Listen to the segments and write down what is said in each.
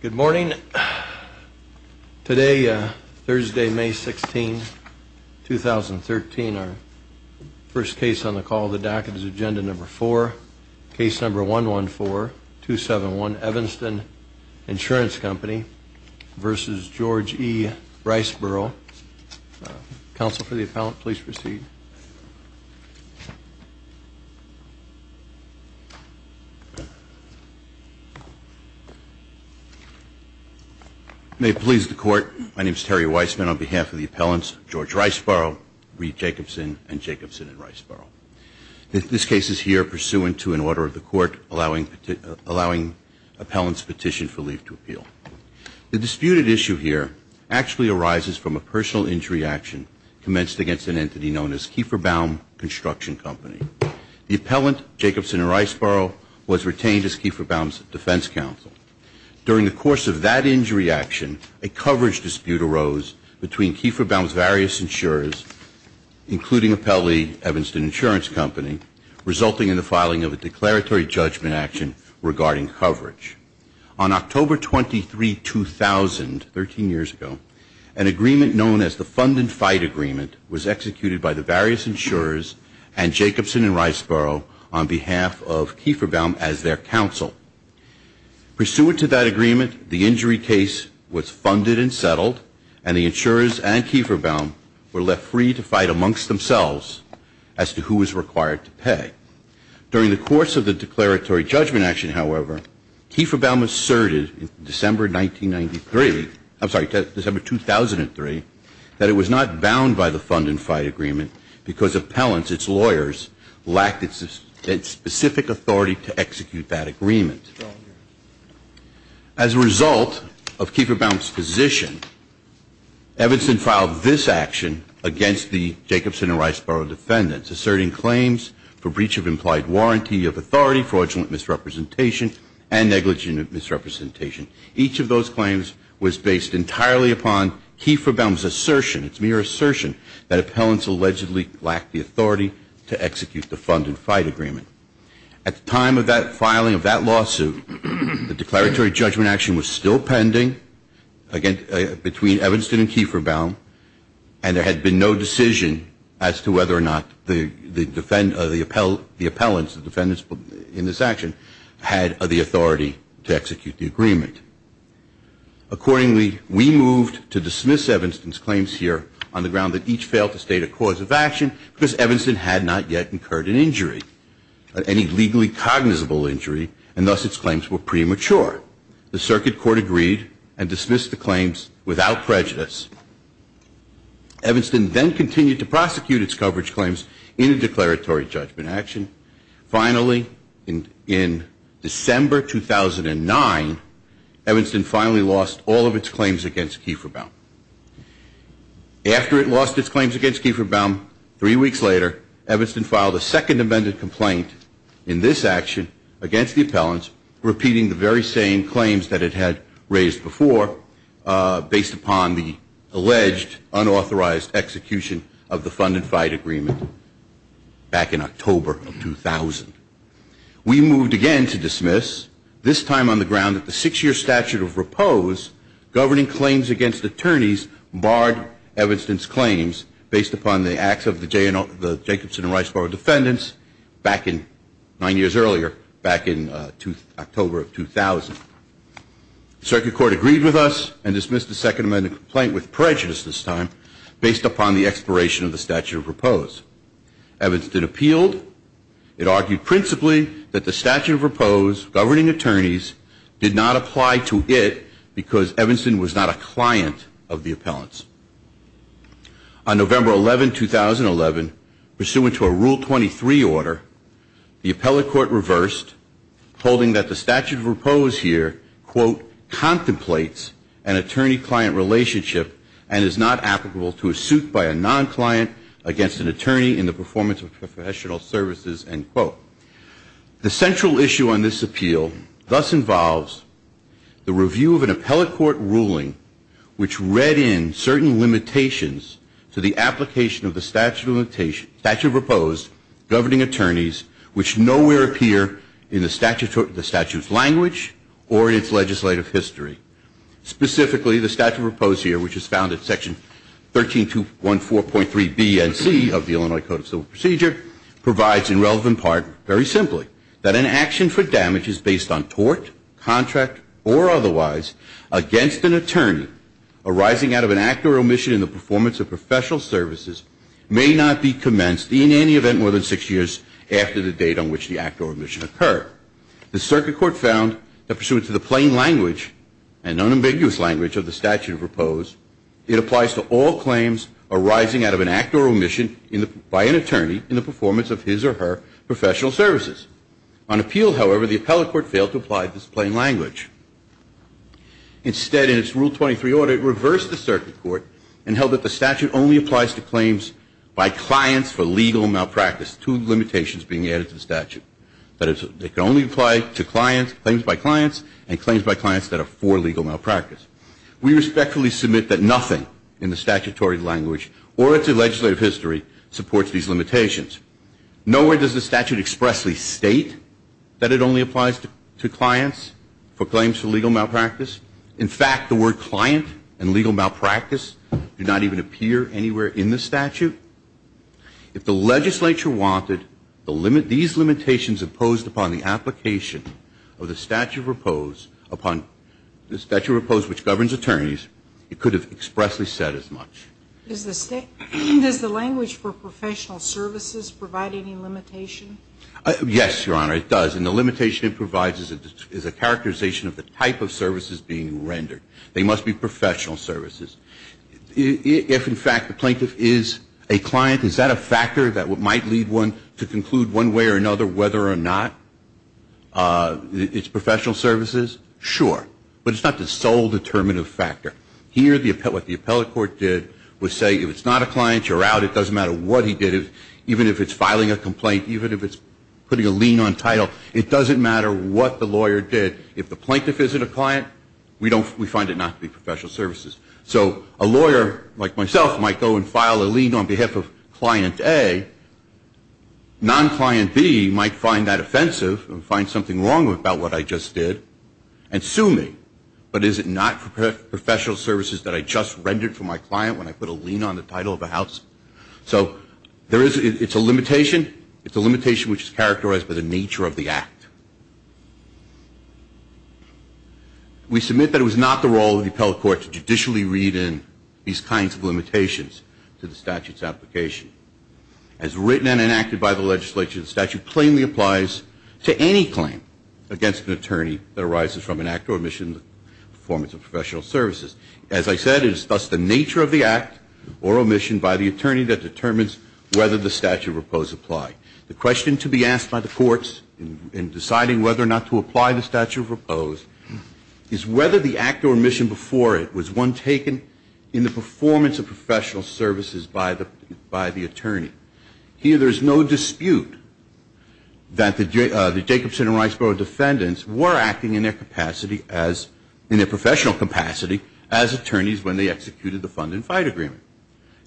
Good morning. Today, Thursday, May 16, 2013, our first case on the call, the docket is agenda number four, case number 114271, Evanston Insurance Company v. George E. Riseborough. Counsel for the appellant, please proceed. May it please the Court, my name is Terry Weissman on behalf of the appellants George Riseborough, Reed Jacobson, and Jacobson and Riseborough. This case is here pursuant to an order of the Court allowing appellants petition for leave to appeal. The disputed issue here actually arises from a personal injury action commenced against an entity known as Kieferbaum Construction Company. The appellant, Jacobson and Riseborough, was retained as Kieferbaum's defense counsel. During the course of that injury action, a coverage dispute arose between Kieferbaum's various insurers, including appellee Evanston Insurance Company, resulting in the filing of a declaratory judgment action regarding coverage. On October 23, 2000, 13 years ago, an agreement known as the Fund and Fight Agreement was executed by the various insurers and Jacobson and Riseborough on behalf of Kieferbaum as their counsel. Pursuant to that agreement, the injury case was funded and settled, and the insurers and Kieferbaum were left free to fight amongst themselves as to who was required to pay. During the course of the declaratory judgment action, however, Kieferbaum asserted in December 1993, I'm sorry, December 2003, that it was not bound by the Fund and Fight Agreement because appellants, its lawyers, lacked its specific authority to execute that agreement. As a result of Kieferbaum's position, Evanston filed this action against the Jacobson and Riseborough defendants, asserting claims for breach of implied warranty of authority, fraudulent misrepresentation, and negligent misrepresentation. Each of those claims was based entirely upon Kieferbaum's assertion, its mere assertion, that appellants allegedly lacked the authority to execute the Fund and Fight Agreement. At the time of that filing of that lawsuit, the declaratory judgment action was still pending between Evanston and Kieferbaum, and there had been no decision as to whether or not to proceed. Accordingly, we moved to dismiss Evanston's claims here on the ground that each failed to state a cause of action because Evanston had not yet incurred an injury, any legally cognizable injury, and thus its claims were premature. The circuit court agreed and dismissed the claims without prejudice. Evanston then continued to prosecute its coverage claims in a declaratory judgment action. Finally, in December 2009, Evanston finally lost all of its claims against Kieferbaum. After it lost its claims against Kieferbaum, three weeks later, Evanston filed a second amended complaint in this action against the appellants, repeating the very same claims that it had raised before based upon the alleged unauthorized execution of the Fund and Fight Agreement back in October of 2000. We moved again to dismiss, this time on the ground that the six-year statute of repose governing claims against attorneys barred Evanston's claims based upon the acts of the Jacobson and Riceboro defendants nine years earlier, back in October of 2000. The circuit court agreed with us and dismissed the second amended complaint with prejudice this time based upon the expiration of the statute of repose. Evanston appealed. It argued principally that the statute of repose governing attorneys did not apply to it because Evanston was not a client of the appellants. On November 11, 2011, pursuant to a Rule 23 order, the appellate court reversed, holding that the statute of repose here, quote, contemplates an attorney-client relationship and is not applicable to a suit by a non-client against an attorney in the performance of professional services, end quote. The central issue on this appeal thus involves the review of an appellate court ruling which read in certain limitations to the application of the statute of repose governing attorneys which nowhere appear in the statute's language or in its legislative history. Specifically, the statute of repose here, which is found in Section 13214.3 BNC of the Illinois Code of Civil Procedure, provides in relevant part, very simply, that an action for damage is based on tort, contract, or professional services may not be commenced in any event more than six years after the date on which the act or omission occurred. The circuit court found that pursuant to the plain language and unambiguous language of the statute of repose, it applies to all claims arising out of an act or omission by an attorney in the performance of his or her professional services. On appeal, however, the appellate court failed to apply this plain language. Instead, in its Rule 23 order, it reversed the circuit court and held that the statute only applies to claims by clients for legal malpractice, two limitations being added to the statute. That is, it can only apply to claims by clients and claims by clients that are for legal malpractice. We respectfully submit that nothing in the statutory language or its legislative history supports these limitations. Nowhere does the statute expressly state that it only applies to clients for claims for legal malpractice. In fact, the word client and legal malpractice do not even appear anywhere in the statute. If the legislature wanted these limitations imposed upon the application of the statute of repose upon the statute of repose which governs attorneys, it could have expressly said as much. Does the language for professional services provide any limitation? Yes, Your Honor, it does. And the limitation it provides is a characterization of the type of services being rendered. They must be professional services. If in fact the plaintiff is a client, is that a factor that might lead one to conclude one way or another whether or not it's professional services? Sure. But it's not the sole determinative factor. Here, what the appellate court did was say if it's not a client, you're out. It doesn't matter what he did. Even if it's filing a complaint, even if it's putting a lien on title, it doesn't matter what the lawyer did. If the plaintiff isn't a client, we find it not to be professional services. So a lawyer like myself might go and file a lien on behalf of client A. Non-client B might find that offensive and find something wrong about what I just did and sue me. But is it not professional services that I just rendered for my client when I put a lien on the title of a house? So it's a limitation. It's a limitation which is characterized by the nature of the act. We submit that it was not the role of the appellate court to judicially read in these kinds of limitations to the statute's application. As written and enacted by the legislature, the statute plainly applies to any claim against an attorney that arises from an act or omission in the performance of professional services. As I said, it is thus the nature of the act or omission by the attorney that determines whether the statute of repose apply. The question to be asked by the courts in deciding whether or not to apply the statute of repose is whether the act or omission before it was one taken in the performance of professional services by the attorney. Here there is no dispute that the Jacobson and Riceboro defendants were acting in their professional capacity as attorneys when they executed the fund and fight agreement.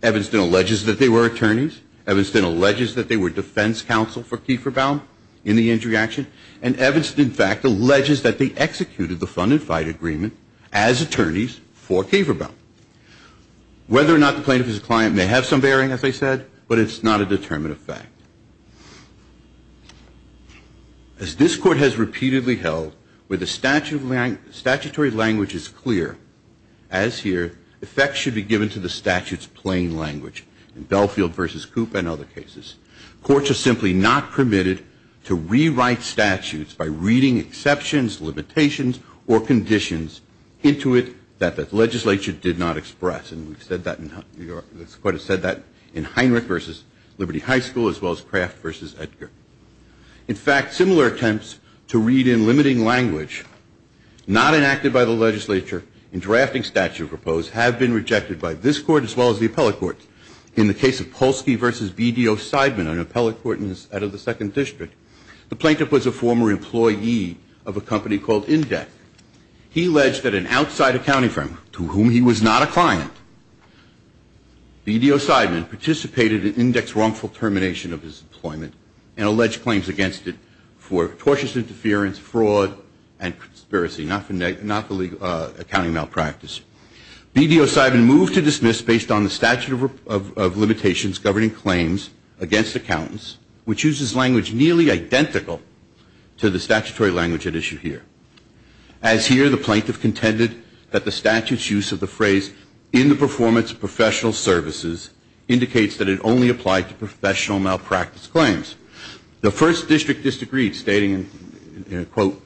Evanston alleges that they were attorneys. Evanston alleges that they were defense counsel for Kieferbaum in the injury action. And Evanston, in fact, alleges that they executed the fund and fight agreement as attorneys for Kieferbaum. Whether or not the plaintiff is a client may have some bearing, as I said, but it's not a determinative fact. As this Court has repeatedly held, where the statutory language is clear, as here, effects should be given to the statute's plain language. In Belfield v. Cooper and other cases, courts are simply not permitted to rewrite statutes by reading exceptions, limitations, or conditions into it that the legislature did not express. And we've said that in Heinrich v. Liberty High School as well as Kraft v. Edgar. In fact, similar attempts to read in limiting language not enacted by the legislature in drafting statute proposed have been rejected by this Court as well as the appellate courts. In the case of Polsky v. BDO Seidman, an appellate court out of the Second District, the plaintiff was a former employee of a company called Indec. He alleged that an outside accounting firm to whom he was not a client, BDO Seidman, participated in Indec's wrongful termination of his employment and alleged claims against it for tortious interference, fraud, and conspiracy, not the legal accounting malpractice. BDO Seidman moved to dismiss based on the statute of limitations governing claims against accountants, which uses language nearly identical to the statutory language at issue here. As here, the plaintiff contended that the statute's use of the phrase in the performance of professional services indicates that it only applied to professional malpractice claims. The First District disagreed, stating, and I quote,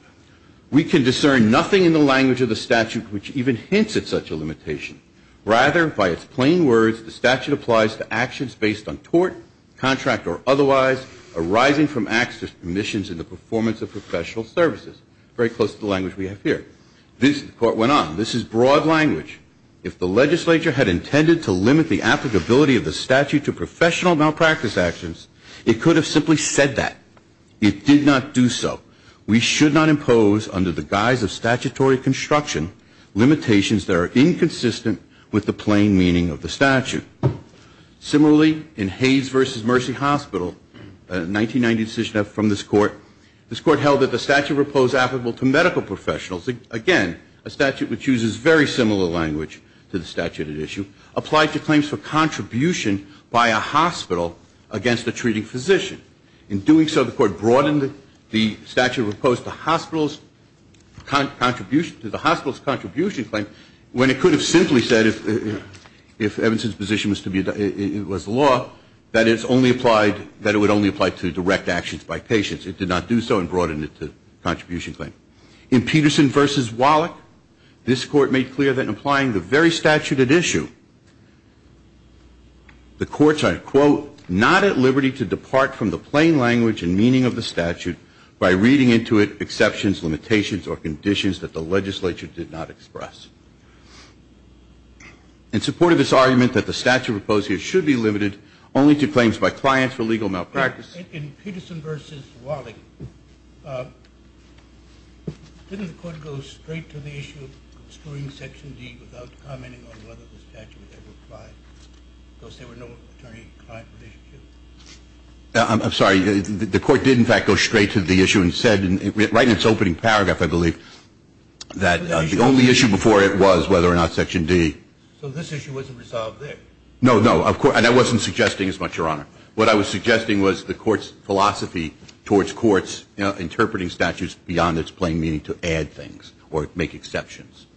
we can discern nothing in the language of the statute which even hints at such a limitation. Rather, by its plain words, the statute applies to actions based on tort, contract, or otherwise arising from acts of omissions in the performance of professional services, very close to the language we have here. This, the court went on, this is broad language. If the legislature had intended to limit the applicability of the statute to professional malpractice actions, it could have simply said that. It did not do so. We should not impose, under the guise of statutory construction, limitations that are inconsistent with the plain meaning of from this court. This court held that the statute proposed applicable to medical professionals. Again, a statute which uses very similar language to the statute at issue applied to claims for contribution by a hospital against a treating physician. In doing so, the court broadened the statute proposed to the hospital's contribution claim when it could have simply said if Evanston's position was to be, it was law, that it's only applied, that it would only apply to direct actions by patients. It did not do so and broadened it to contribution claim. In Peterson versus Wallach, this court made clear that in applying the very statute at issue, the court said, quote, not at liberty to depart from the plain language and meaning of the statute by reading into it exceptions, limitations, or conditions that the legislature did not express. In support of this I'm sorry. The court did, in fact, go straight to the issue and said, right in its opening paragraph, I believe, that the only issue before it was whether or not section D. So this issue wasn't resolved there? No, no. Of course. And I wasn't suggesting as much, Your Honor. What I'm saying is that the court did not go straight to the statute. What I was suggesting was the court's philosophy towards courts interpreting statutes beyond its plain meaning to add things or make exceptions.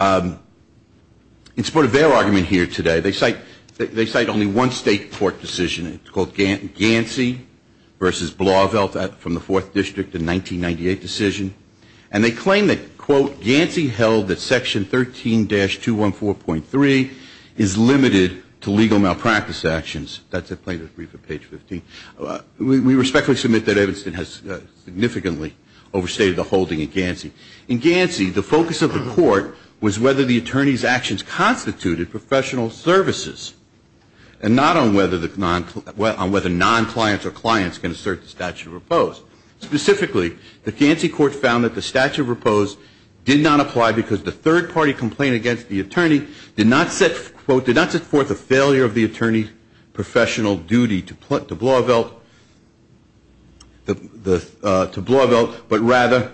In support of their argument here today, they cite only one state court decision. It's called Gansey versus Blauvelt from the Fourth District, a 1998 decision. And they claim that, quote, Gansey held that section 13-214.3 is limited to legal malpractice actions. That's a plaintiff's brief at page 15. We respectfully submit that Evanston has significantly overstated the holding in Gansey. In Gansey, the focus of the court was whether the attorney's actions constituted professional services and not on whether non-clients or clients can assert the statute of repose. Specifically, the Gansey court found that the statute of repose did not apply because the third-party complaint against the attorney did not set, quote, did not set forth a failure of the attorney's professional duty to Blauvelt, but rather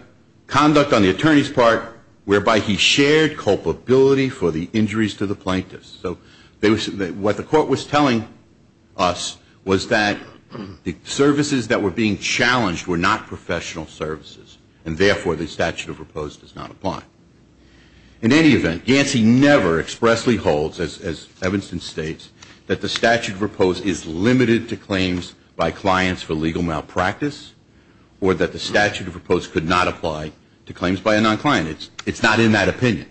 conduct on the attorney's part whereby he shared culpability for the injuries to the plaintiffs. So what the court was telling us was that the services that were being challenged were not professional services, and therefore, the statute of repose does not apply. In any event, Gansey never expressly holds, as Evanston states, that the statute of repose is limited to claims by clients for legal malpractice or that the statute of repose could not apply to claims by a non-client. It's not in that opinion.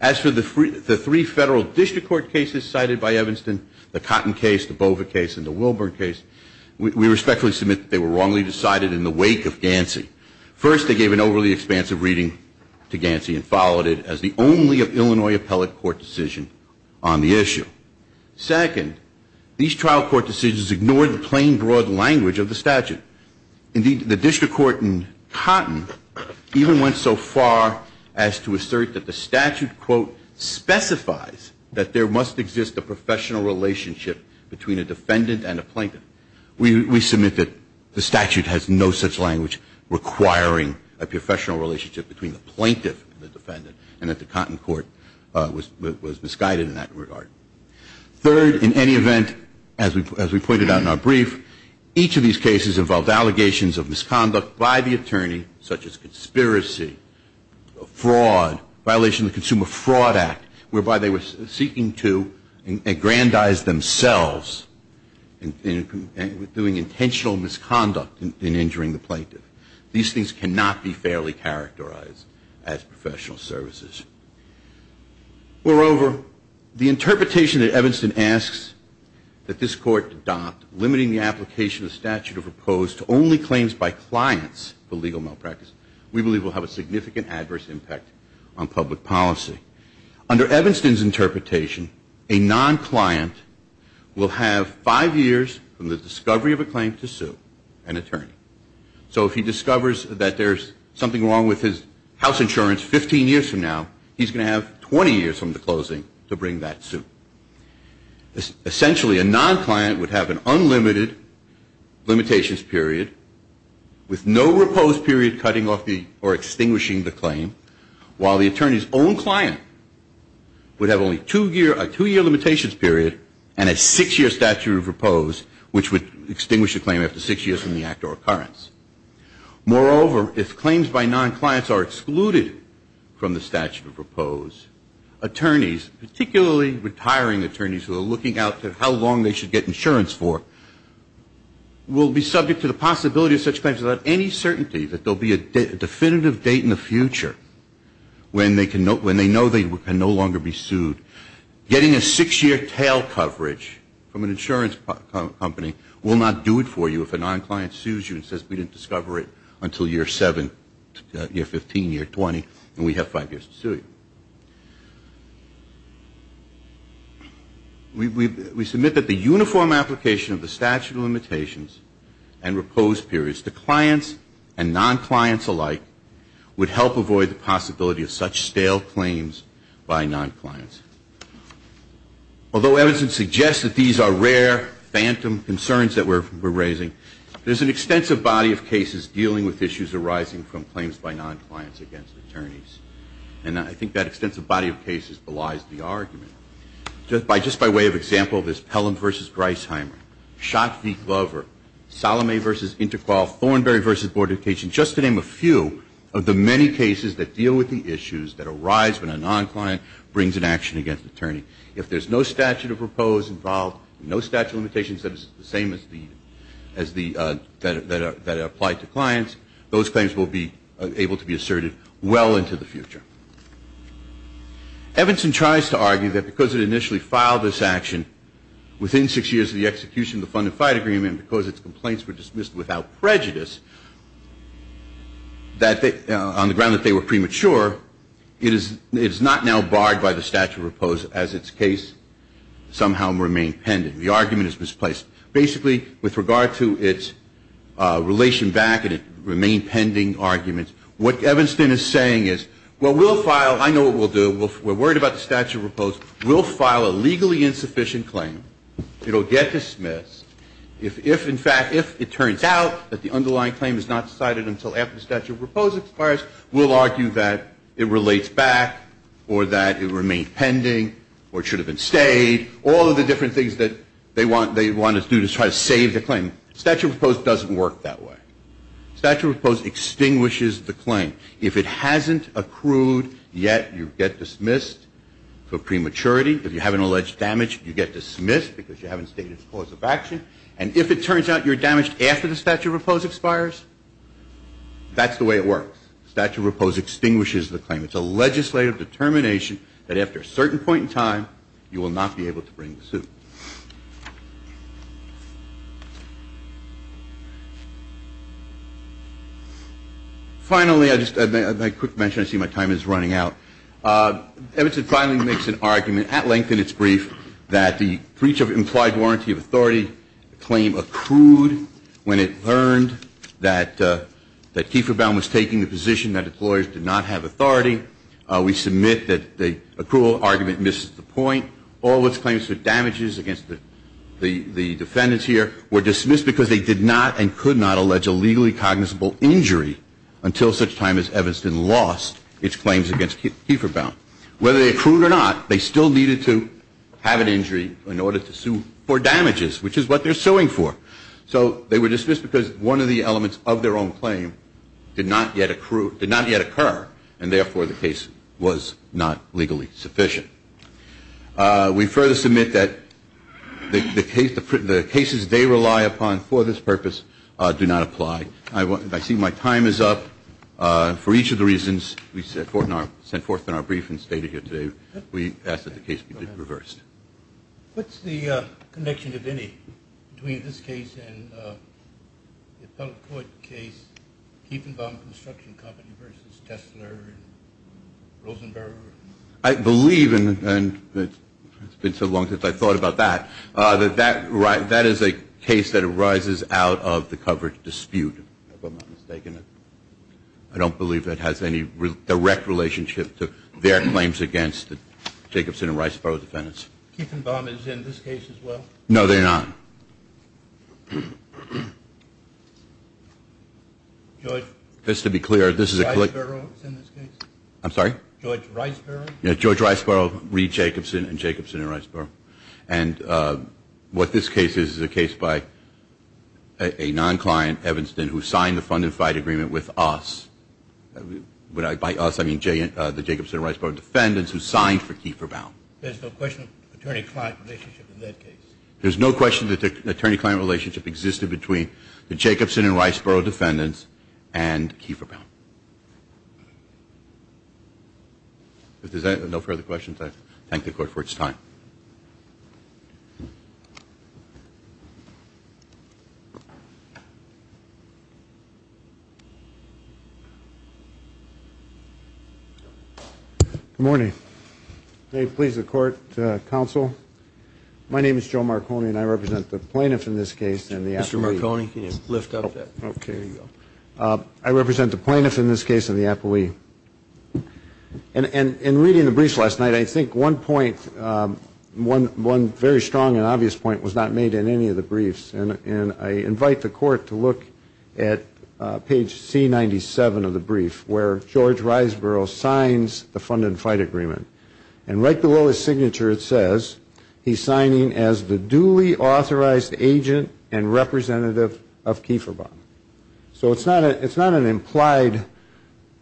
As for the three federal district court cases cited by Evanston, the Cotton case, the Bova case, and the Wilburn case, we respectfully submit that they were wrongly decided in the wake of Gansey. First, they gave an overly expansive reading to Gansey and followed it as the only of Illinois appellate court decision on the issue. Second, these trial court decisions ignored the plain, broad language of the statute. Indeed, the district court in Cotton even went so far as to assert that the statute, quote, specifies that there is a defendant and a plaintiff. We submit that the statute has no such language requiring a professional relationship between the plaintiff and the defendant and that the Cotton court was misguided in that regard. Third, in any event, as we pointed out in our brief, each of these cases involved allegations of misconduct by the attorney, such as conspiracy, fraud, violation of the Consumer Fraud Act, whereby they were seeking to aggrandize themselves in doing intentional misconduct in injuring the plaintiff. These things cannot be fairly characterized as professional services. Moreover, the interpretation that Evanston asks that this court adopt limiting the application of the statute of repose to only claims by clients for legal malpractice, we believe will have a significant adverse impact on public policy. Under Evanston's interpretation, a non-client will have five years from the discovery of a claim to sue an attorney. So if he discovers that there's something wrong with his house insurance 15 years from now, he's going to have 20 years from the closing to bring that suit. Essentially, a non-client would have an unlimited limitations period with no repose period cutting off or extinguishing the claim, while the attorney's own client would have only a two-year limitations period and a six-year statute of repose, which would extinguish a claim after six years from the act or occurrence. Moreover, if claims by non-clients are excluded from the statute of repose, attorneys, particularly retiring attorneys who are looking out to how long they should get insurance for, will be subject to the possibility of such claims without any certainty that there will be a definitive date in the future when they know they can no longer be sued. Getting a six-year tail coverage from an insurance company will not do it for you if a non-client sues you and says we didn't discover it until year seven, year 15, year 20, and we have five years to We submit that the uniform application of the statute of limitations and repose periods to clients and non-clients alike would help avoid the possibility of such stale claims by non-clients. Although evidence suggests that these are rare phantom concerns that we're raising, there's an extensive body of cases dealing with issues arising from claims by non-clients against attorneys. And I think that extensive body of cases belies the argument. Just by way of example, there's Pelham v. Griesheimer, Schott v. Glover, Salome v. Interpol, Thornberry v. Board of Education, just to name a few of the many cases that deal with the issues that arise when a non-client brings an action against an attorney. If there's no statute of repose involved, no statute of limitations that is the same as the, that apply to clients, those claims will be able to be asserted well into the future. Evanson tries to argue that because it initially filed this action within six years of the execution of the fund and fight agreement, because its complaints were dismissed without prejudice, that on the ground that they were premature, it is not now barred by the statute of repose as its case somehow remained pending. The argument is misplaced. Basically, with regard to its relation back and it remained pending argument, what Evanston is saying is, well, we'll file, I know what we'll do, we're worried about the statute of repose, we'll file a legally insufficient claim. It'll get dismissed. If, in fact, if it turns out that the underlying claim is not cited until after the statute of repose requires, we'll argue that it relates back or that it remained pending or it should have been stayed, all of the different things that they want to do to try to save the claim. Statute of repose doesn't work that way. Statute of repose extinguishes the claim. If it hasn't accrued yet, you get dismissed for prematurity. If you have an alleged damage, you get dismissed because you haven't stated its cause of action. And if it turns out you're damaged after the statute of repose expires, that's the way it works. Statute of repose extinguishes the claim. It's a legislative determination that after a certain point in time, you will not be able to bring the suit. Finally, just a quick mention, I see my time is running out. Evanston finally makes an argument at length in its brief that the breach of implied warranty of authority claim was accrued when it learned that Kieferbaum was taking the position that the lawyers did not have authority. We submit that the accrual argument misses the point. All of its claims for damages against the defendants here were dismissed because they did not and could not allege a legally cognizable injury until such time as Evanston lost its claims against Kieferbaum. Whether they accrued or not, they still needed to have an injury in order to sue for damages, which is what they're suing for. So they were dismissed because one of the elements of their own claim did not yet accrue, did not yet occur, and therefore the case was not legally sufficient. We further submit that the cases they rely upon for this purpose do not apply. I see my time is up. For each of the reasons we sent forth in our brief and stated here today, we ask that the case be reversed. What's the connection, if any, between this case and the appellate court case, Kieferbaum Construction Company versus Tesler and Rosenberg? I believe, and it's been so long since I thought about that, that that is a case that arises out of the covered dispute, if I'm not mistaken. I don't believe that has any direct relationship to their claims against the Jacobson and Riceboro defendants. Kieferbaum is in this case as well? No, they're not. George Riceboro is in this case? I'm sorry? George Riceboro. Yeah, George Riceboro, Reed Jacobson, and Jacobson and Riceboro. And what this case is, is a case by a non-client, Evanston, who signed the fund-and-fide agreement with us. By us, I mean the Jacobson and Riceboro defendants who signed for Kieferbaum. There's no question of attorney-client relationship in that case? There's no question that the attorney-client relationship existed between the Jacobson and Riceboro defendants and Kieferbaum. If there's no further questions, I thank the Court for its time. Good morning. May it please the Court, Counsel, my name is Joe Marconi and I represent the plaintiff in this case. Mr. Marconi, can you lift up that? Okay, there you go. I represent the plaintiff in this case and the appellee. And in reading the briefs last night, I think one point, one very strong and obvious point, was not made in any of the briefs. And I invite the Court to look at page C-97 of the brief, where George Riceboro signs the fund-and-fide agreement. And right below his signature it says, he's signing as the duly authorized agent and representative of Kieferbaum. So it's not an implied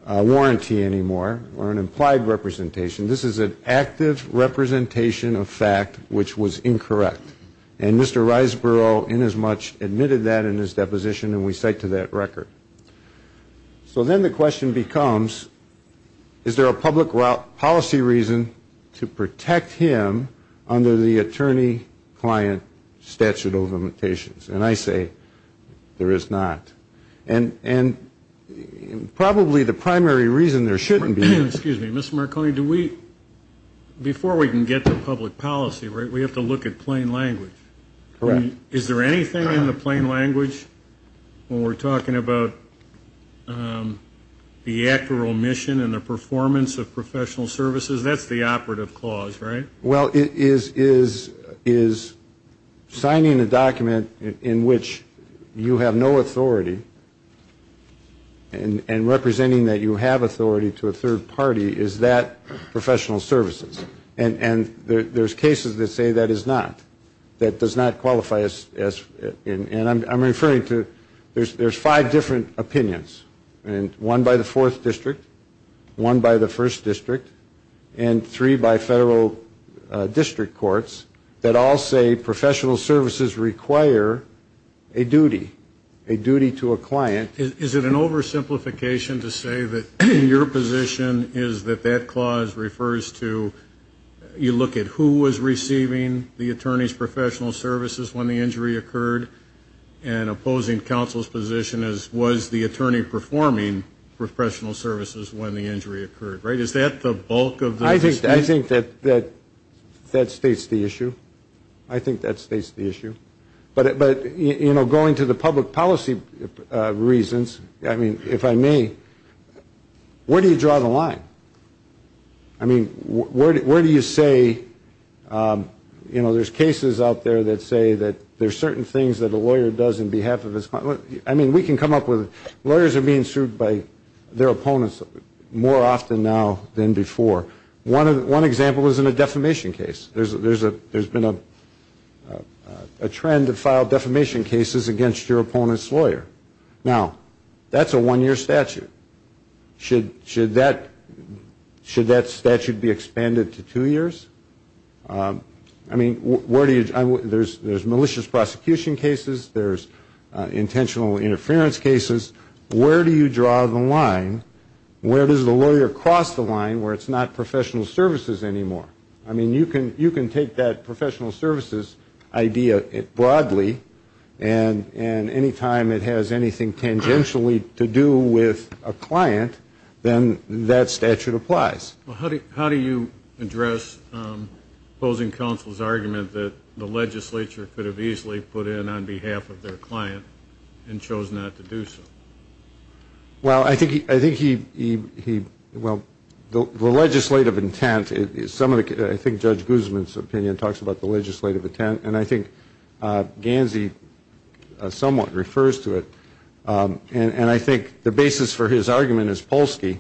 warranty anymore, or an implied representation. This is an active representation of fact which was incorrect. And Mr. Riceboro, inasmuch, admitted that in his deposition and we cite to that record. So then the question becomes, is there a public policy reason to protect him under the attorney-client statute of limitations? And I say, there is not. And probably the primary reason there shouldn't be. Excuse me. Mr. Marconi, do we, before we can get to public policy, right, we have to look at plain language. Is there anything in the plain language when we're talking about the actual mission and the performance of professional services? That's the operative clause, right? Well, is signing a document in which you have no authority and representing that you have authority to a third party, is that professional services? And there's cases that say that is not, that does not qualify as, and I'm referring to, there's five different opinions. And one by the fourth district, one by the first district, and three by federal district courts that all say professional services require a duty, a duty to a client. Is it an oversimplification to say that your position is that that clause refers to, you look at who was receiving the attorney's professional services when the injury occurred and opposing counsel's position as was the attorney performing professional services when the injury occurred, right? Is that the bulk of the discussion? I think that states the issue. I think that states the issue. But, you know, going to the public policy reasons, I mean, if I may, where do you draw the line? I mean, where do you say, you know, there's cases out there that say that there's certain things that a lawyer does on behalf of his client. I mean, we can come up with, lawyers are being sued by their opponents more often now than before. One example is in a defamation case. There's been a trend to file defamation cases against your opponent's lawyer. Now, that's a one-year statute. Should that statute be expanded to two years? I mean, where do you, there's malicious prosecution cases, there's intentional interference cases. Where do you draw the line? Where does the lawyer cross the line where it's not professional services anymore? I mean, you can take that professional services idea broadly and any time it has anything tangentially to do with a client, then that statute applies. Well, how do you address opposing counsel's argument that the legislature could have easily put in on behalf of their client and chose not to do so? Well, I think he, well, the legislative intent, I think Judge Guzman's opinion talks about the legislative intent, and I think Gansey somewhat refers to it, and I think the basis for his argument is Polsky,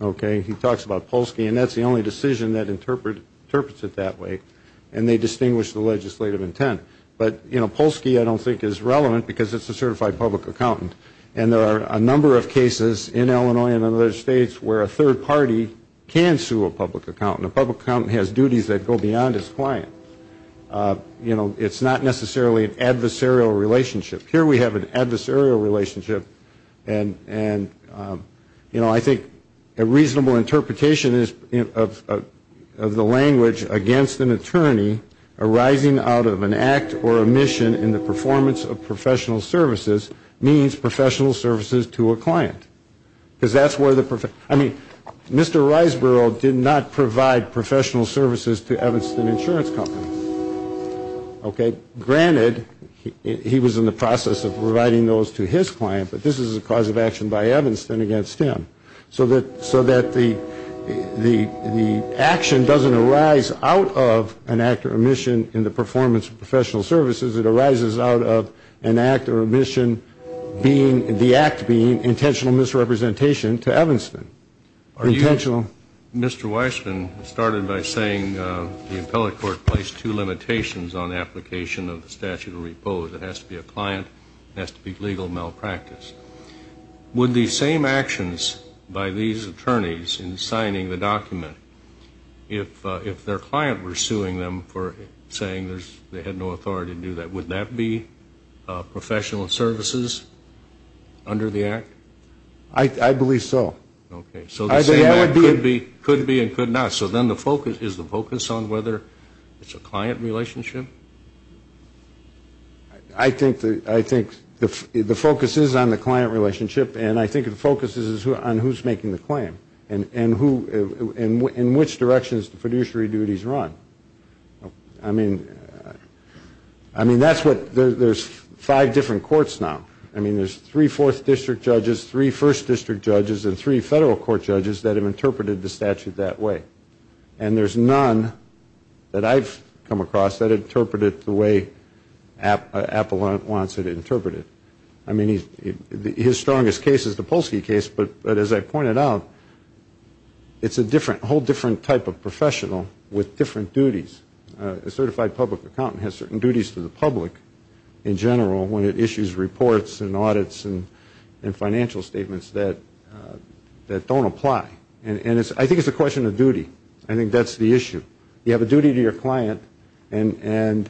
okay? He talks about Polsky, and that's the only decision that interprets it that way, and they distinguish the legislative intent. But, you know, Polsky I don't think is relevant because it's a certified public accountant, and there are a number of cases in Illinois and other states where a third party can sue a public accountant. A public accountant has duties that go beyond his client. You know, it's not necessarily an adversarial relationship. Here we have an adversarial relationship, and, you know, I think a reasonable interpretation of the language against an attorney arising out of an act or a mission in the performance of professional services means professional services to a client. Because that's where the, I mean, Mr. Reisborough did not provide professional services to Evanston Insurance Company, okay? Granted, he was in the process of providing those to his client, but this is a cause of action by Evanston against him. So that the action doesn't arise out of an act or a mission in the performance of professional services. It arises out of an act or a mission being, the act being, intentional misrepresentation to Evanston. Mr. Weissman started by saying the appellate court placed two limitations on application of the statute of repose. It has to be a client. It has to be legal malpractice. Would the same actions by these attorneys in signing the document, if their client were suing them for saying they had no authority to do that, would that be professional services under the act? I believe so. Could be and could not. So then the focus, is the focus on whether it's a client relationship? I think the focus is on the client relationship, and I think the focus is on who's making the claim, and in which directions the fiduciary duties run. I mean, that's what, there's five different courts now. I mean, there's three fourth district judges, three first district judges, and three federal court judges that have interpreted the statute that way. And there's none that I've come across that interpret it the way Appellant wants it interpreted. I mean, his strongest case is the Polsky case, but as I pointed out, it's a different, a whole different type of professional with different duties. A certified public accountant has certain duties to the public in general when it issues reports and audits and financial statements that don't apply. And I think it's a question of duty. I think that's the issue. You have a duty to your client, and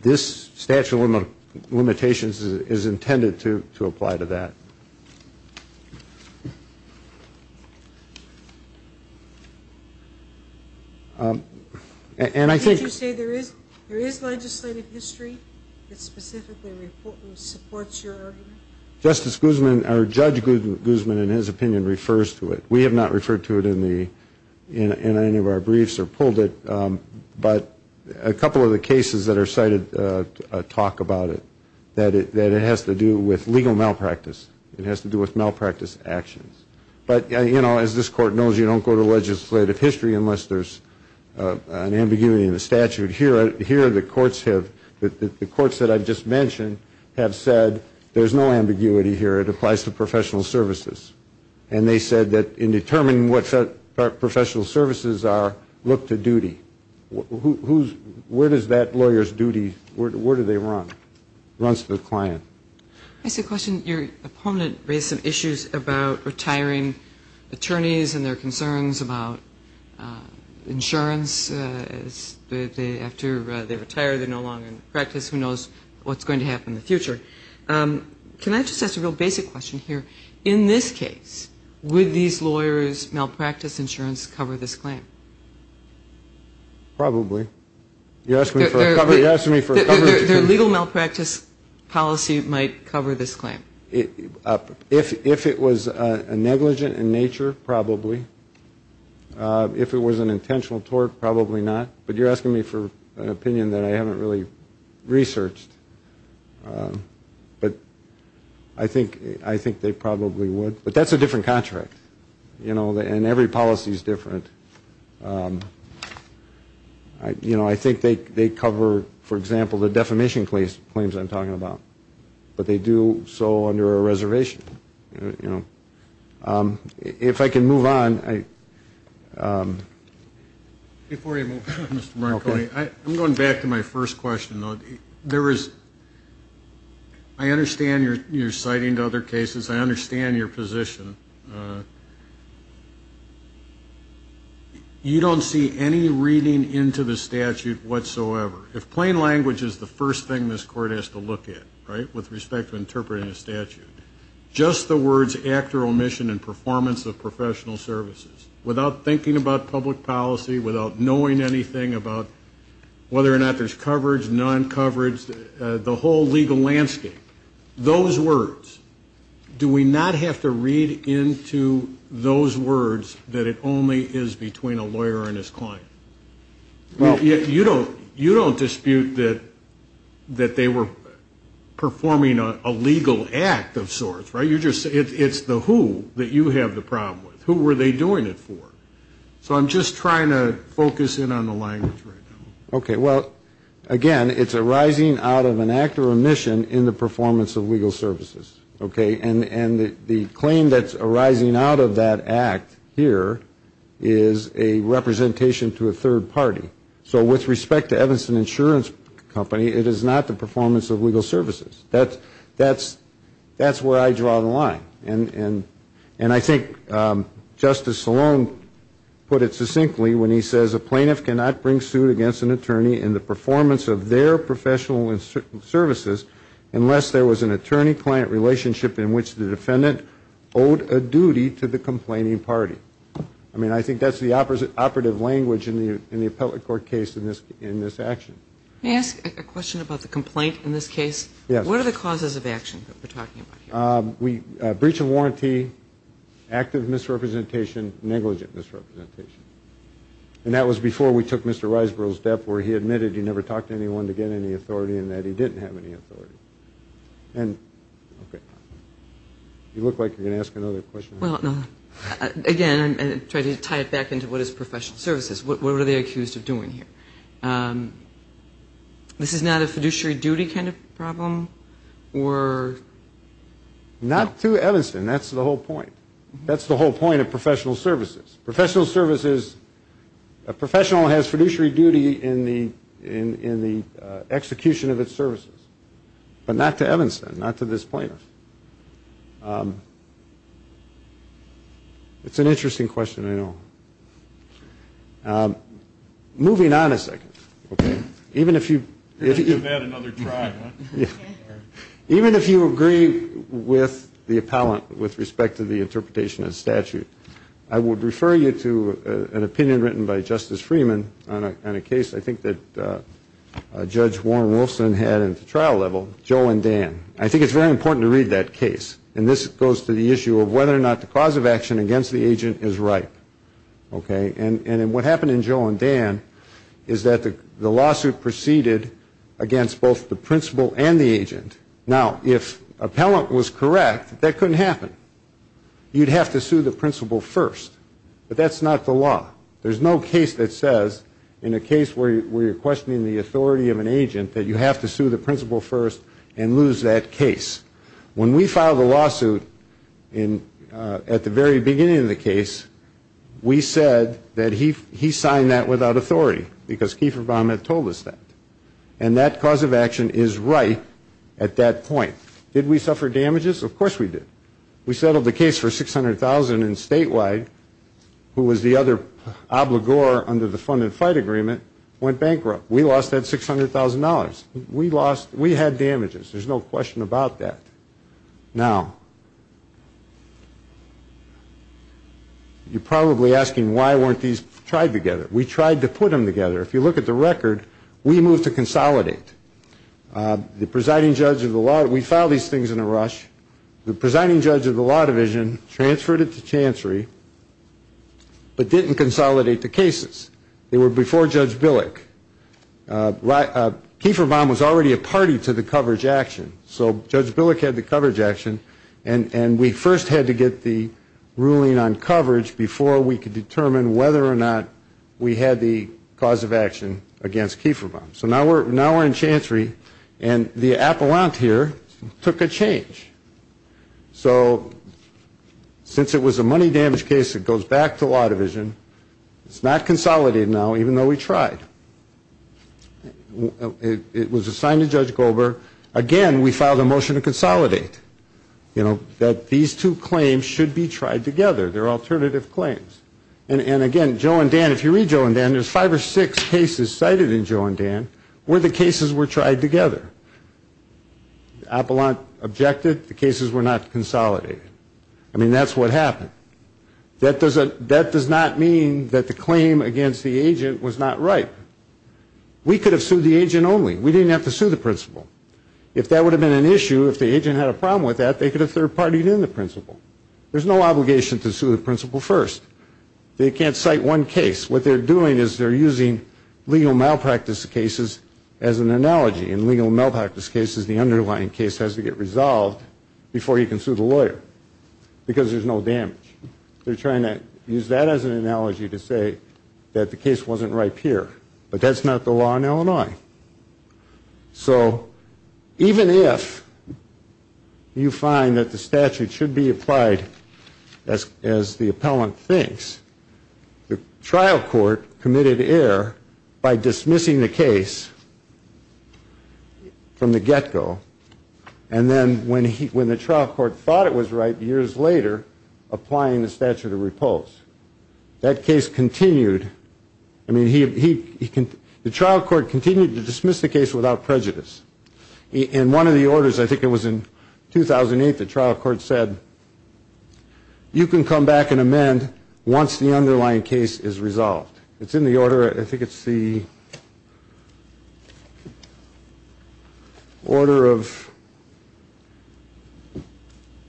this statute of limitations is intended to apply to that. And I think... Did you say there is legislative history that specifically supports your argument? Justice Guzman, or Judge Guzman, in his opinion, refers to it. We have not referred to it in any of our briefs or pulled it, but a couple of the cases that are cited talk about it, that it has to do with legal malpractice. It has to do with malpractice actions. But, you know, as this Court knows, you don't go to legislative history unless there's an ambiguity in the statute. Here the courts have, the courts that I've just mentioned have said there's no ambiguity here. It applies to professional services. And they said that in determining what professional services are, look to duty. Where does that lawyer's duty, where do they run? Runs to the client. I just have a question. Your opponent raised some issues about retiring attorneys and their concerns about insurance. After they retire, they're no longer in practice. Who knows what's going to happen in the future? Can I just ask a real basic question here? In this case, would these lawyers' malpractice insurance cover this claim? Probably. Their legal malpractice policy might cover this claim. If it was a negligent in nature, probably. If it was an intentional tort, probably not. But you're asking me for an opinion that I haven't really researched. But I think they probably would. But that's a different contract. And every policy is different. I think they cover, for example, the defamation claims I'm talking about. But they do so under a reservation. If I can move on. Before you move on, Mr. Marconi, I'm going back to my first question. I understand you're citing other cases. I understand your position. You don't see any reading into the statute whatsoever. If plain language is the first thing this Court has to look at, right, with respect to interpreting a statute, just the words actor omission and performance of professional services, without thinking about public policy, without knowing anything about whether or not there's coverage, non-coverage, the whole legal landscape, those words, do we not have to read into those words that it only is between a lawyer and his client? You don't dispute that they were performing a legal act of sorts, right? It's the who that you have the problem with. Who were they doing it for? So I'm just trying to focus in on the language right now. Okay. Well, again, it's arising out of an actor omission in the performance of legal services. Okay. And the claim that's arising out of that act here is a representation to a third party. So with respect to Evanston Insurance Company, it is not the performance of legal services. That's where I draw the line. And I think Justice Salone put it succinctly when he says a plaintiff cannot bring suit against an attorney in the performance of their professional services unless there was an attorney-client relationship in which the defendant owed a duty to the complaining party. I mean, I think that's the operative language in the appellate court case in this action. May I ask a question about the complaint in this case? Yes. What are the causes of action that we're talking about here? Breach of warranty, active misrepresentation, negligent misrepresentation. And that was before we took Mr. Riseborough's death where he admitted he never talked to anyone to get any authority and that he didn't have any authority. You look like you're going to ask another question. Again, I'm trying to tie it back into what is professional services. What were they accused of doing here? This is not a fiduciary duty kind of problem? Not to Evanston. That's the whole point. That's the whole point of professional services. A professional has fiduciary duty in the execution of its services, but not to Evanston, not to this plaintiff. It's an interesting question, I know. Moving on a second. Okay. Even if you agree with the appellant with respect to the interpretation of the statute, I would refer you to an opinion written by Justice Freeman on a case I think that Judge Warren Wilson had at the trial level, Joe and Dan. I think it's very important to read that case. And this goes to the issue of whether or not the cause of action against the agent is right. The lawsuit proceeded against both the principal and the agent. Now, if appellant was correct, that couldn't happen. You'd have to sue the principal first. But that's not the law. There's no case that says in a case where you're questioning the authority of an agent that you have to sue the principal first and lose that case. When we filed the lawsuit at the very beginning of the case, we said that he signed that without authority because Kiefer Baum had told us that. And that cause of action is right at that point. Did we suffer damages? Of course we did. We settled the case for $600,000 and statewide, who was the other obligor under the fund and fight agreement, went bankrupt. We lost that $600,000. We lost, we had damages. There's no question about that. Now, you're probably asking why weren't these tried together? We tried to put them together. If you look at the record, we moved to consolidate. The presiding judge of the law, we filed these things in a rush. The presiding judge of the law division transferred it to Chancery, but didn't consolidate the cases. They were before Judge Billick. Kiefer Baum was already a party to the coverage action, so Judge Billick had the coverage action, and we first had to get the ruling on coverage before we could determine whether or not we had the cause of action against Kiefer Baum. So now we're in Chancery, and the appellant here took a change. So since it was a money damage case, it goes back to law division. It's not consolidated now, even though we tried. It was assigned to Judge Goldberg. Again, we filed a motion to consolidate, you know, that these two claims should be tried together. They're alternative claims. And again, Joe and Dan, if you read Joe and Dan, there's five or six cases cited in Joe and Dan where the cases were tried together. Appellant objected. The cases were not consolidated. I mean, that's what happened. That does not mean that the claim against the agent was not right. We could have sued the agent only. We didn't have to sue the principal. If that would have been an issue, if the agent had a problem with that, they could have third-partied in the principal. There's no obligation to sue the principal first. They can't cite one case. What they're doing is they're using legal malpractice cases as an analogy. In legal malpractice cases, the underlying case has to get resolved before you can sue the lawyer because there's no damage. They're trying to use that as an analogy to say that the case wasn't right here. But that's not the law in Illinois. So even if you find that the statute should be applied as the appellant thinks, the trial court committed error by dismissing the case from the get-go. And then when the trial court thought it was right, years later, applying the statute of repulse. That case continued. I mean, the trial court continued to dismiss the case without prejudice. In one of the orders, I think it was in 2008, the trial court said, you can come back and amend once the underlying case is resolved. It's in the order, I think it's the order of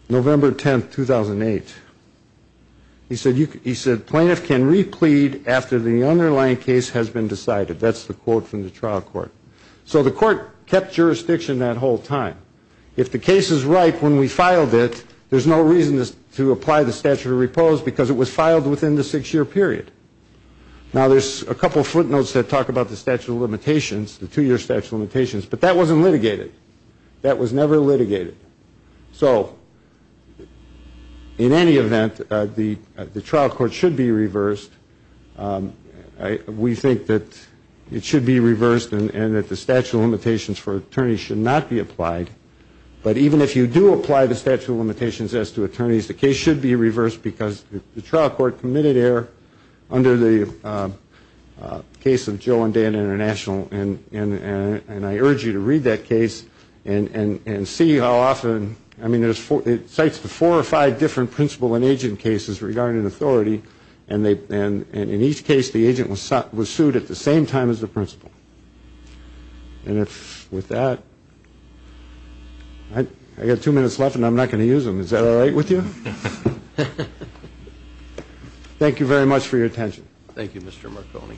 November 10, 2008. He said, plaintiff can replead after the underlying case has been decided. That's the quote from the trial court. So the court kept jurisdiction that whole time. If the case is right when we filed it, there's no reason to apply the statute of repulse because it was filed within the six-year period. Now, there's a couple of footnotes that talk about the statute of limitations, the two-year statute of limitations, but that wasn't litigated. That was never litigated. So in any event, the trial court should be reversed. We think that it should be reversed and that the statute of limitations for attorneys should not be applied. But even if you do apply the statute of limitations as to attorneys, the case should be reversed because the trial court committed error under the case of Joe and Dan International, and I urge you to read that case and see how often, I mean, it cites the four or five different principal and agent cases regarding authority, and in each case the agent was sued at the same time as the principal. And with that, I've got two minutes left and I'm not going to use them. Is that all right with you? Thank you very much for your attention. Thank you, Mr. Marconi.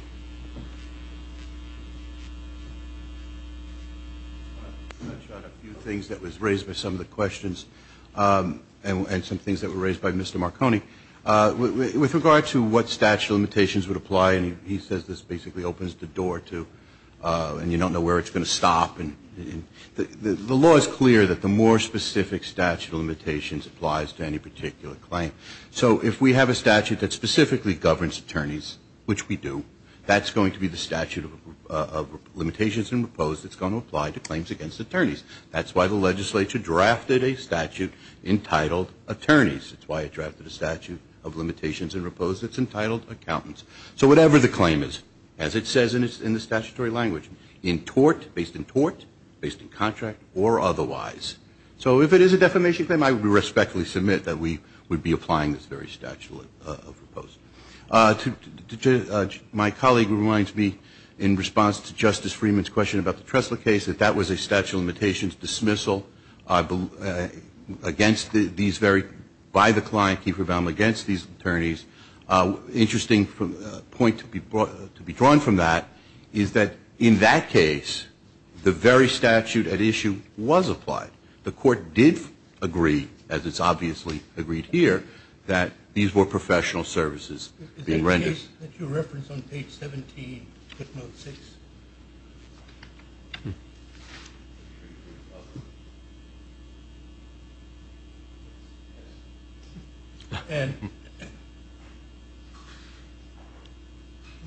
I want to touch on a few things that was raised by some of the questions and some things that were raised by Mr. Marconi. With regard to what statute of limitations would apply, and he says this basically opens the door to, and you don't know where it's going to stop. The law is clear that the more specific statute of limitations applies to any particular claim. So if we have a statute that specifically governs attorneys, which we do, that's going to be the statute of limitations and repose that's going to apply to claims against attorneys. That's why the legislature drafted a statute entitled attorneys. That's why it drafted a statute of limitations and repose that's entitled accountants. So whatever the claim is, as it says in the statutory language, in tort, based in tort, based in contract, or otherwise. So if it is a defamation claim, I respectfully submit that we would be applying this very statute of repose. My colleague reminds me, in response to Justice Freeman's question about the Tressler case, that that was a statute of limitations dismissal against these very, by the client, keep her bound against these attorneys. Interesting point to be drawn from that is that in that case, the very statute at issue was applied. The court did agree, as it's obviously agreed here, that these were professional services being rendered. Is there a case that you reference on page 17, footnote 6?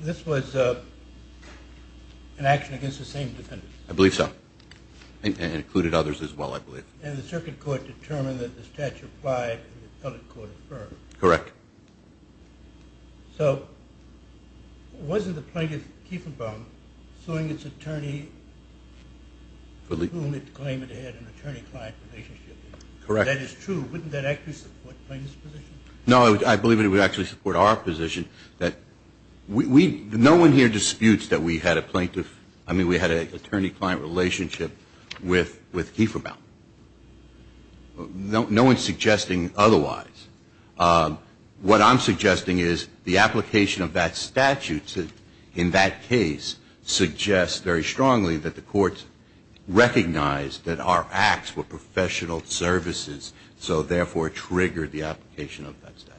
This was an action against the same defendants. I believe so. It included others as well, I believe. And the circuit court determined that the statute applied and the appellate court affirmed. Correct. So wasn't the plaintiff, Kiefenbaum, suing its attorney for whom it claimed it had an attorney-client relationship with? Correct. That is true. Wouldn't that actually support the plaintiff's position? No, I believe it would actually support our position. No one here disputes that we had a plaintiff, I mean we had an attorney-client relationship with Kiefenbaum. No one is suggesting otherwise. What I'm suggesting is the application of that statute in that case suggests very strongly that the court recognized that our acts were professional services, so therefore triggered the application of that statute.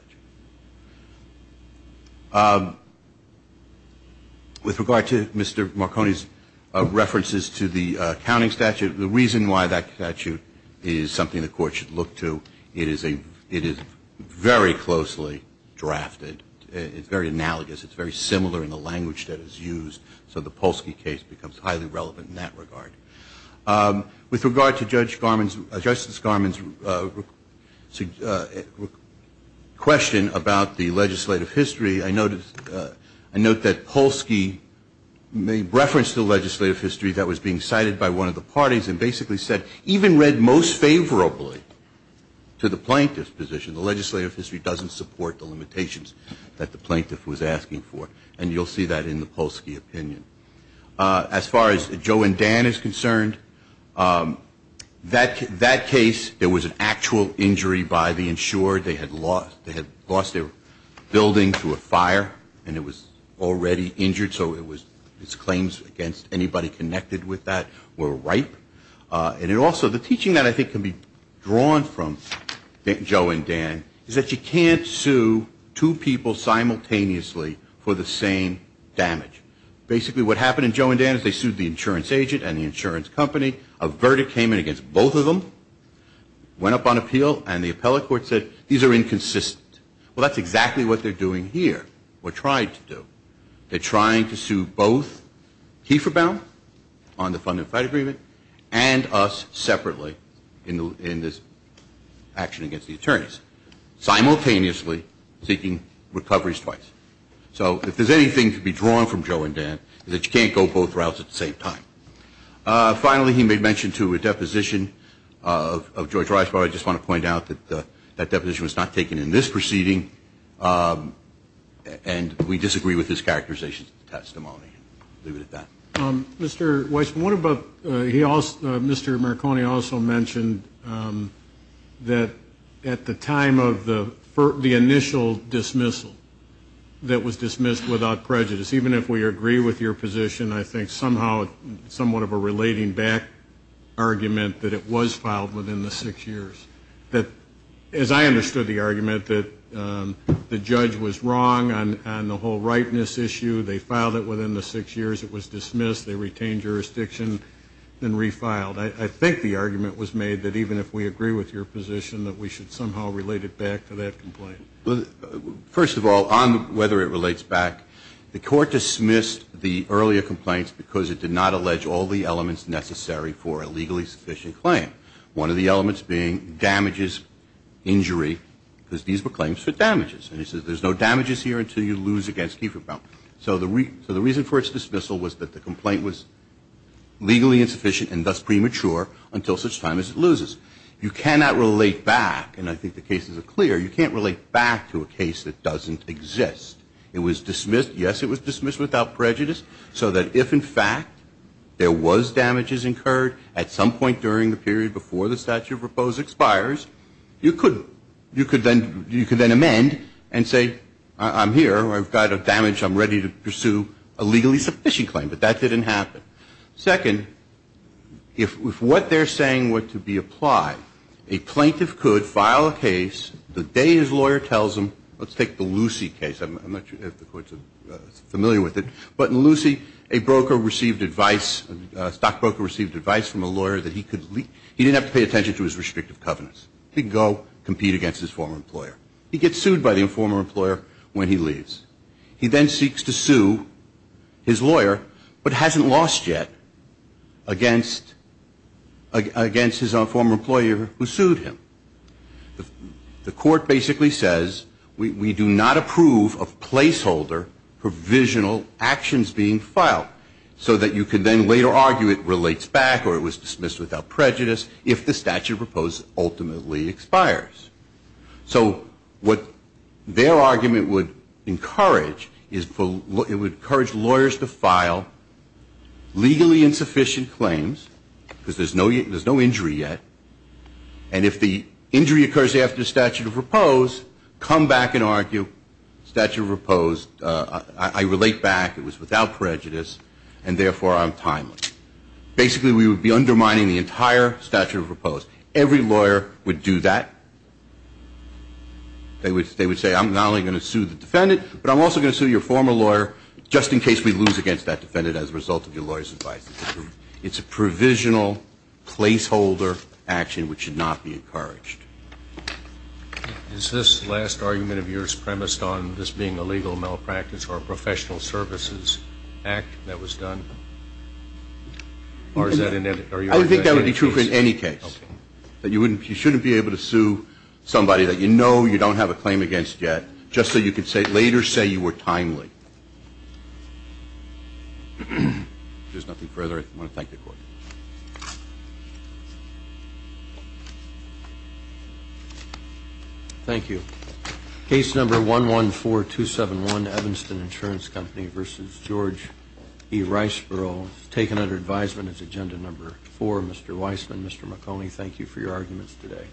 With regard to Mr. Marconi's references to the counting statute, the reason why that statute is something the court should look to, it is a very closely drafted, it's very analogous, it's very similar in the language that is used, so the Polsky case becomes highly relevant in that regard. With regard to Justice Garmon's question about the legislative history, I note that Polsky referenced the legislative history that was being cited by one of the parties and basically said, even read most favorably to the plaintiff's position, the legislative history doesn't support the limitations that the plaintiff was asking for, and you'll see that in the Polsky opinion. As far as Joe and Dan is concerned, that case, there was an actual injury by the insured. They had lost their building to a fire and it was already injured, so its claims against anybody connected with that were ripe. And also the teaching that I think can be drawn from Joe and Dan is that you can't sue two people simultaneously for the same damage. Basically what happened in Joe and Dan is they sued the insurance agent and the insurance company, a verdict came in against both of them, went up on appeal, and the appellate court said these are inconsistent. Well, that's exactly what they're doing here, or tried to do. They're trying to sue both Kieferbaum on the fund and fight agreement and us separately in this action against the attorneys, simultaneously seeking recoveries twice. So if there's anything to be drawn from Joe and Dan, it's that you can't go both routes at the same time. Finally, he made mention to a deposition of George Rice, but I just want to point out that that deposition was not taken in this proceeding, and we disagree with his characterization of the testimony. I'll leave it at that. Mr. Weisman, what about, he also, Mr. Marconi also mentioned that at the time of the initial dismissal that was dismissed without prejudice, even if we agree with your position, I think somehow somewhat of a relating back argument that it was filed within the six years. That, as I understood the argument, that the judge was wrong on the whole rightness issue. They filed it within the six years. It was dismissed. They retained jurisdiction and refiled. I think the argument was made that even if we agree with your position, that we should somehow relate it back to that complaint. First of all, on whether it relates back, the Court dismissed the earlier complaints because it did not allege all the elements necessary for a legally sufficient claim. One of the elements being damages, injury, because these were claims for damages. And it says there's no damages here until you lose against Kieferbaum. So the reason for its dismissal was that the complaint was legally insufficient and thus premature until such time as it loses. You cannot relate back, and I think the cases are clear, you can't relate back to a case that doesn't exist. It was dismissed in the period before the statute of repose expires. You could then amend and say I'm here, I've got a damage, I'm ready to pursue a legally sufficient claim, but that didn't happen. Second, if what they're saying were to be applied, a plaintiff could file a case the day his lawyer tells him, let's take the Lucy case. I'm not sure if the Court's familiar with it. But in Lucy, a broker received advice, a stockbroker received advice from a lawyer that he could, he didn't have to pay attention to his restrictive covenants. He could go compete against his former employer. He gets sued by the former employer when he leaves. He then seeks to sue his lawyer, but hasn't lost yet, against his former employer who sued him. The Court basically says we do not approve of placeholder provisional actions being filed so that you can then later argue it relates back or it was dismissed without prejudice if the statute of repose ultimately expires. So what their argument would encourage is it would encourage lawyers to file legally insufficient claims because there's no injury yet, and if the injury occurs after the statute of repose, come back and argue statute of repose, I relate back, it was without prejudice, and therefore I'm timely. Basically we would be undermining the entire statute of repose. Every lawyer would do that. They would say I'm not only going to sue the defendant, but I'm also going to sue your former lawyer just in case we lose against that statute of repose. So that's the argument that they would encourage. Is this last argument of yours premised on this being a legal malpractice or a professional services act that was done? Or is that in any case? I would think that would be true in any case, that you shouldn't be able to sue somebody that you know you don't have a claim against yet just so you could later say you were a professional. Thank you. Case number 114271, Evanston Insurance Company v. George E. Riceboro, taken under advisement as agenda number 4. Mr. Weissman, Mr. McConey, thank you for your arguments today.